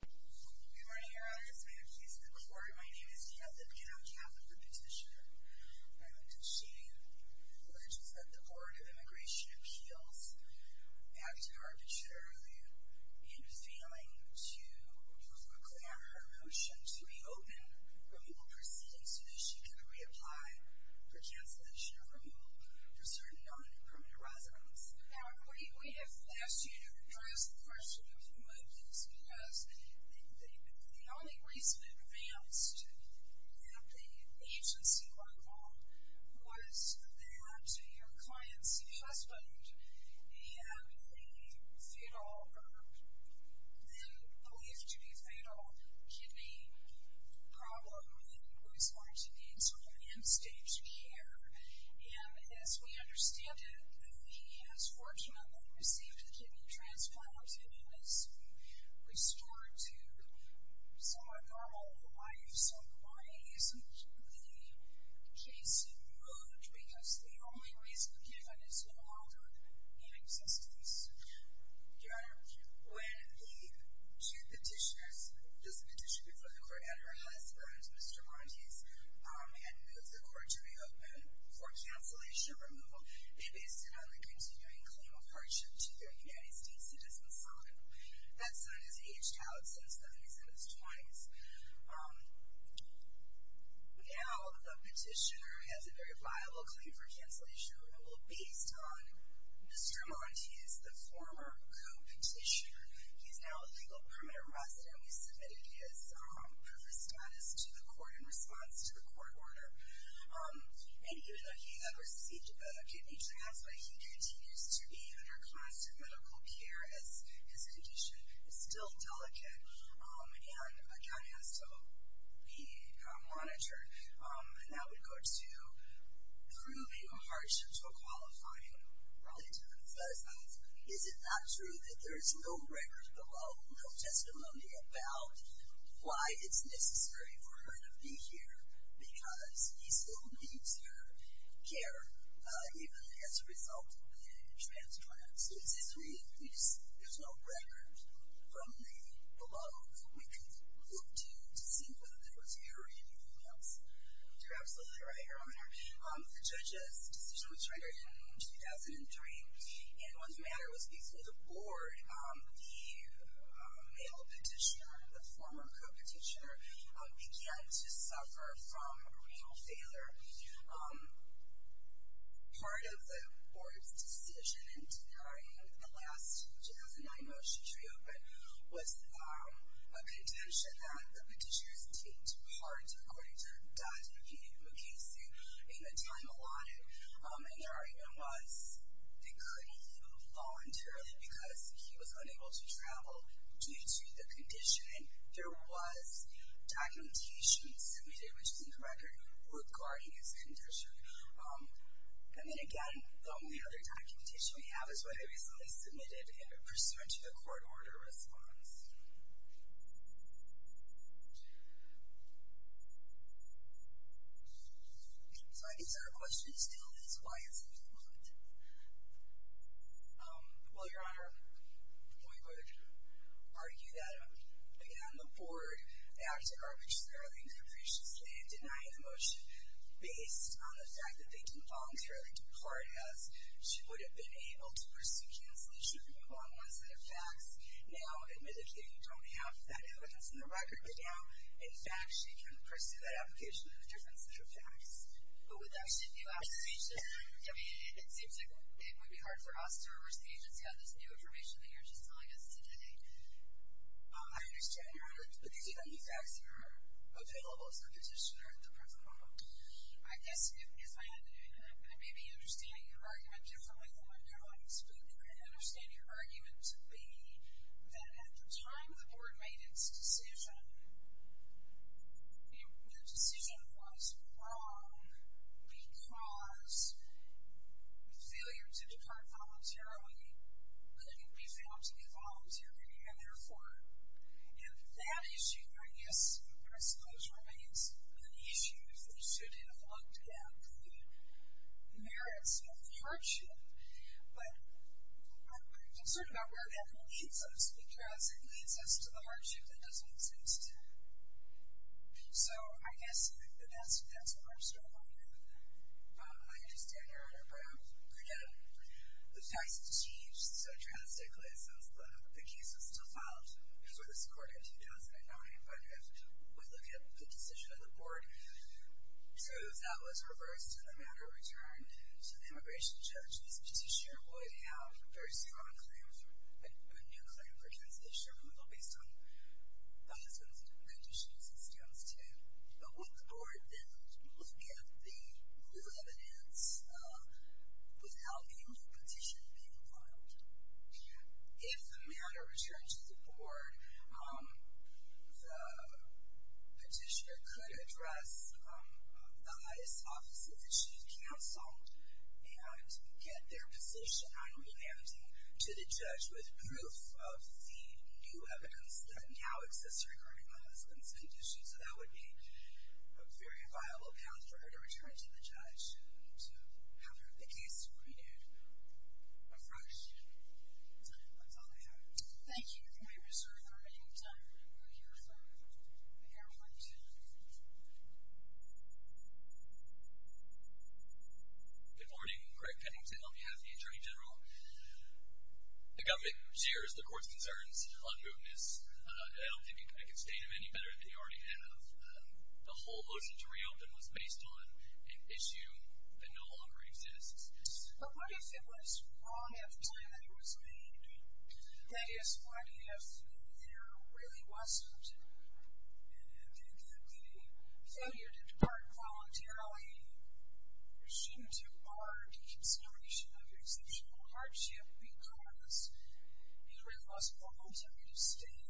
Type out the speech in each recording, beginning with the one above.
Good morning, Your Honor. This has been a case in the court. My name is Heather Pino, Catholic Repetitioner, and she alleges that the Board of Immigration Appeals acted arbitrarily in failing to reclaim her motion to reopen removal proceedings so that she could reapply for cancellation of removal for certain non-permanent residents. Now, we have asked you to address the question of removals because the only reason it advanced at the agency level was that your client's husband had a fatal, or they believed to be fatal, kidney problem and was going to need some end-stage care. And as we understand it, he has fortunately received a kidney transplant and has been restored to somewhat normal life. So why isn't the case removed because the only reason given is no longer in existence? Your Honor, when the two petitioners, this petitioner before the court and her husband, Mr. Montes, had moved the court to reopen for cancellation removal, they based it on the continuing claim of hardship to their United States citizen son. That son has aged out since the early 70s. Now, the petitioner has a very viable claim for cancellation removal based on Mr. Montes, the former co-petitioner. He is now a legal permanent resident. We submitted his proof of status to the court in response to the court order. And even though he has received a kidney transplant, he continues to be under constant medical care as his condition is still delicate and again has to be monitored. And that would go to proving a hardship to a qualifying relative. Is it not true that there is no record below, no testimony about why it's necessary for her to be here because he still needs her care even as a result of the transplant? So is this really, there's no record from the below that we could look to to see whether there was a hurry or anything else? You're absolutely right, Your Honor. The judge's decision was rendered in 2003 and what's matter was before the board, the male petitioner, the former co-petitioner, began to suffer from renal failure. Part of the board's decision in denying the last 2009 motion to reopen was a contention that the petitioners taped part according to Dr. Peter Mukasey in a time allotted. And there even was, they couldn't leave voluntarily because he was unable to travel due to the condition. And there was documentation submitted, which is in the record, regarding his condition. And then again, the only other documentation we have is what they recently submitted in a pursuant to the court order response. So I guess our question still is why is it not? Well, Your Honor, we would argue that, again, the board acted arbitrarily and capriciously in denying the motion based on the fact that they didn't voluntarily depart as she would have been able to pursue cancellation. So we can call on one set of facts. Now, admittedly, we don't have that evidence in the record, but now, in fact, she can pursue that application in a different set of facts. But would that be sufficient? I mean, it seems like it would be hard for us to reverse the agency on this new information that you're just telling us today. I understand, Your Honor. But these are the new facts that are available to the petitioner at the present moment. I guess if I had to do that, I may be understanding your argument differently than my colleagues, but I can understand your argument to be that at the time the board made its decision, the decision was wrong because failure to depart voluntarily couldn't be found to be voluntary, and therefore, And that issue, I guess, I suppose, remains an issue that should have looked at the merits of hardship, but I'm concerned about where that leads us because it leads us to the hardship that doesn't exist. So I guess that's where I'm struggling with it. I understand, Your Honor, but again, the facts have changed so drastically since the case was still filed before this court in 2009, but if we look at the decision of the board, So if that was reversed and the matter returned to the immigration judge, this petitioner would have a very strong claim for a new claim for consensus removal based on the conditions it stands to. But would the board then look at the new evidence without a new petition being filed? If the matter returned to the board, the petitioner could address the highest office of the chief counsel and get their position on relanding to the judge with proof of the new evidence that now exists regarding the husband's condition. So that would be a very viable path for her to return to the judge to have her case renewed afresh. That's all I have. Thank you for your concern, Your Honor. We'll hear from the hero next. Good morning. Craig Pennington on behalf of the Attorney General. The government shares the court's concerns on mootness. I don't think I can state them any better than you already have. The whole motion to reopen was based on an issue that no longer exists. But what if it was wrong at the time that it was made? That is, what if there really wasn't a failure to depart voluntarily due to our consideration of exceptional hardship because it really wasn't the alternative state?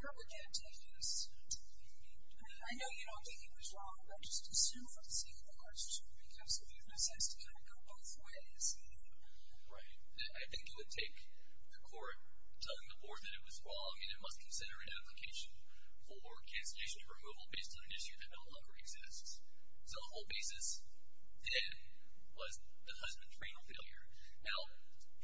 Where would that take us? I mean, I know you don't think it was wrong, but I just assume that it's even a hardship because if you've assessed it, it would go both ways. Right. I think it would take the court telling the board that it was wrong and it must consider an application for cancellation or removal based on an issue that no longer exists. So the whole basis then was the husband's renal failure. Now,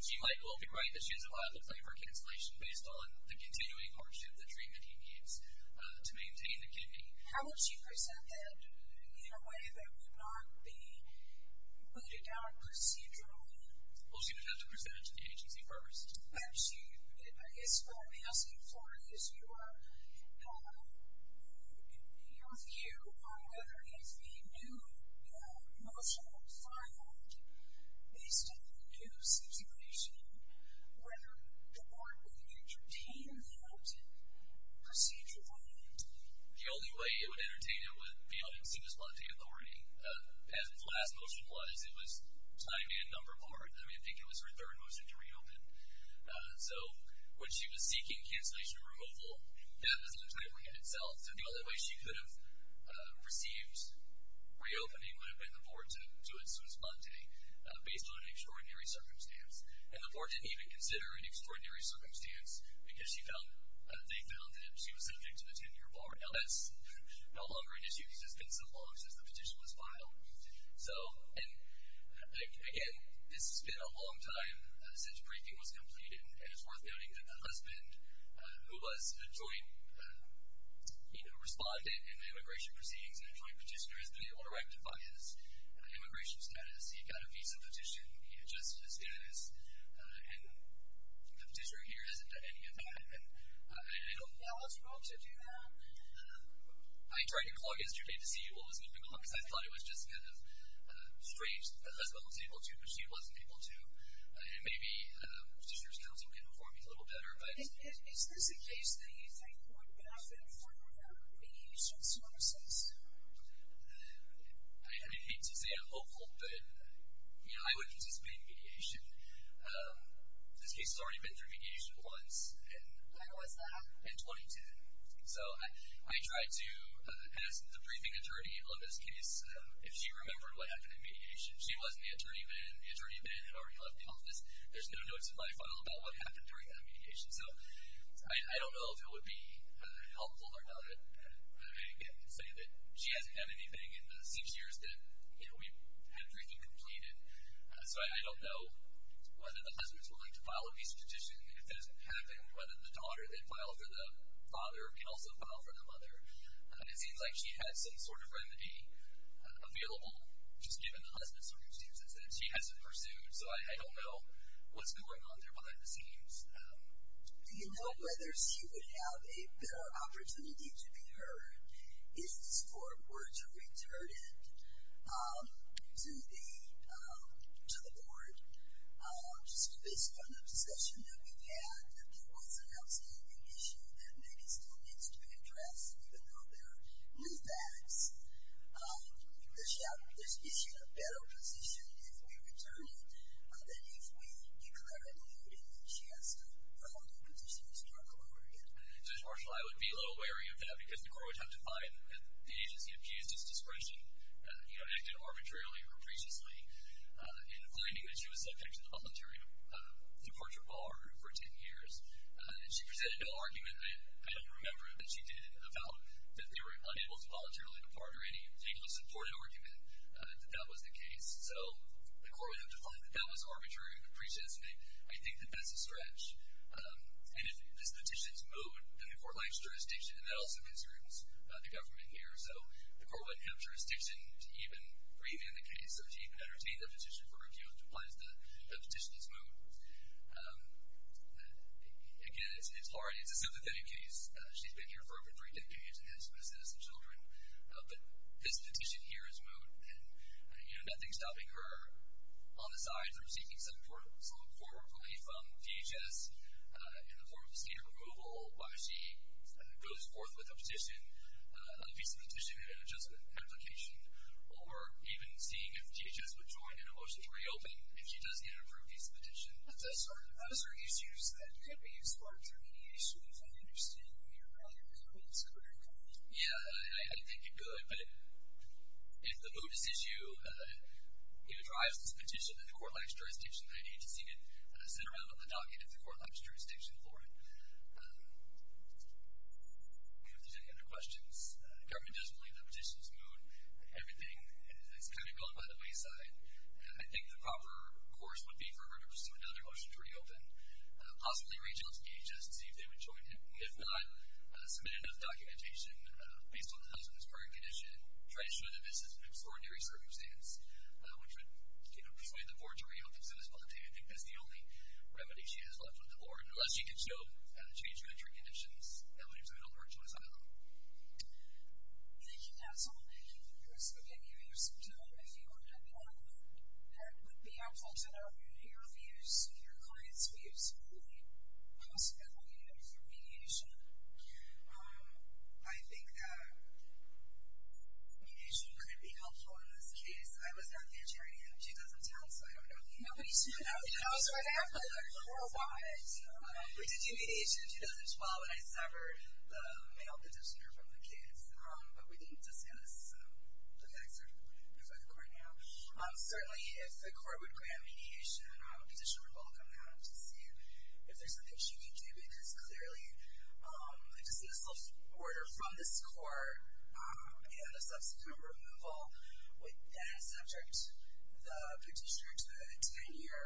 he might well be right that she is allowed a claim for cancellation based on the continuing hardship, the treatment he needs to maintain the kidney. How would she present that in a way that would not be booted down procedurally? Well, she would have to present it to the agency first. Actually, I guess what I'm asking for is your view on whether the new motion filed, based on the new situation, whether the board would entertain that procedurally. The only way it would entertain it would be on expediency authority. As the last motion was, it was signed in number part. I mean, I think it was her third motion to reopen. So when she was seeking cancellation or removal, that was entirely in itself. The only way she could have received reopening would have been the board to do it sui sponte, based on an extraordinary circumstance. And the board didn't even consider an extraordinary circumstance because they found that she was subject to the 10-year bar. Now, that's no longer an issue because it's been so long since the petition was filed. And, again, this has been a long time since a briefing was completed, and it's worth noting that the husband, who was a joint respondent in the immigration proceedings and a joint petitioner, has been able to rectify his immigration status. He got a visa petition. He adjusted his status. And the petitioner here hasn't done any of that. And I don't know what's wrong to do that. I tried to call yesterday to see what was going on because I thought it was just kind of strange. The husband was able to, but she wasn't able to. And maybe petitioner's counsel can inform me a little better. Is this a case that you think would benefit from mediation services? I hate to say I'm hopeful, but, you know, I would anticipate mediation. This case has already been through mediation once. When was that? In 2010. So I tried to ask the briefing attorney on this case if she remembered what happened in mediation. She wasn't the attorney then. The attorney then had already left the office. There's no notes in my file about what happened during that mediation. So I don't know if it would be helpful or not. I can say that she hasn't done anything in the six years that we had briefing completed. So I don't know whether the husband's willing to file a visa petition, if that has happened, whether the daughter that filed for the father can also file for the mother. It seems like she has some sort of remedy available, just given the husband's circumstances, that she hasn't pursued. So I don't know what's going on there behind the scenes. Do you know whether she would have a better opportunity to be heard? Is this for her to return it to the board? Just based on the discussion that we've had, if there was an outstanding issue that maybe still needs to be addressed, even though there are new facts, is she in a better position if we return it than if we declare a duty that she has to hold the position historical over again? Judge Marshall, I would be a little wary of that, because the court would have to find that the agency abused its discretion, acted arbitrarily or capriciously, in finding that she was subject to the voluntary departure bar for ten years. And she presented no argument, I don't remember, that she did about that they were unable to voluntarily depart or any particular supported argument that that was the case. So the court would have to find that that was arbitrary or capriciously. I think that that's a stretch. And if this petition is moved, then the court lacks jurisdiction, and that also concerns the government here. So the court wouldn't have jurisdiction to even review the case or to even entertain a petition for review, which implies that the petition is moved. Again, it's hard. It's a sympathetic case. She's been here for over three decades and has been a citizen of children. But this petition here is moved. And, you know, nothing's stopping her on the side from seeking some support, hopefully from DHS in the form of a state approval, while she goes forth with a petition, a visa petition and an adjustment application, or even seeing if DHS would join in a motion to reopen if she does get an approved visa petition. That's her issues. That could be used for intermediary issues. I understand you're rather concerned about her income. Yeah, I think it could. But if the move is issued, if it drives this petition, then the court lacks jurisdiction. I need to see it sent around on the docket if the court lacks jurisdiction for it. If there's any other questions, the government doesn't believe that petition is moved. Everything is kind of going by the wayside. I think the proper course would be for her to pursue another motion to reopen, possibly reach out to DHS to see if they would join in. If not, submit enough documentation based on the house and its current condition, try to show that this is an extraordinary circumstance, which would persuade the board to reopen. So I think that's the only remedy she has left with the board. Unless she can show change in her current conditions, that would be a little more joyous, I don't know. Thank you, Daxell. Thank you for giving us some time. If you had more, that would be helpful to know your views, your clients' views, on the possibility of remediation. I think that mediation could be helpful in this case. I was not there during 2010, so I don't know. Nobody's here now. I was right after her. I don't know why. We did do mediation in 2012, and I severed the male petitioner from the kids, but we didn't disband this. So, look at that, sir. You're for the court now. Certainly, if the court would grant mediation, I would petition for bulk on that to see if there's something she can do, because clearly a dismissal order from this court and a subsequent removal with that subject, the petitioner to a 10-year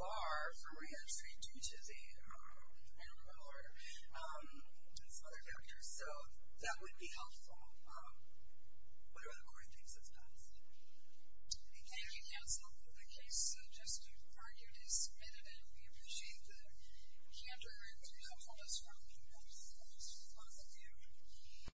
bar for re-entry due to the removal order, and some other factors. So, that would be helpful. What other court things have passed? Thank you, counsel. The case, just as you've argued, is submitted, and we appreciate the candor and helpfulness from you guys. That's just positive.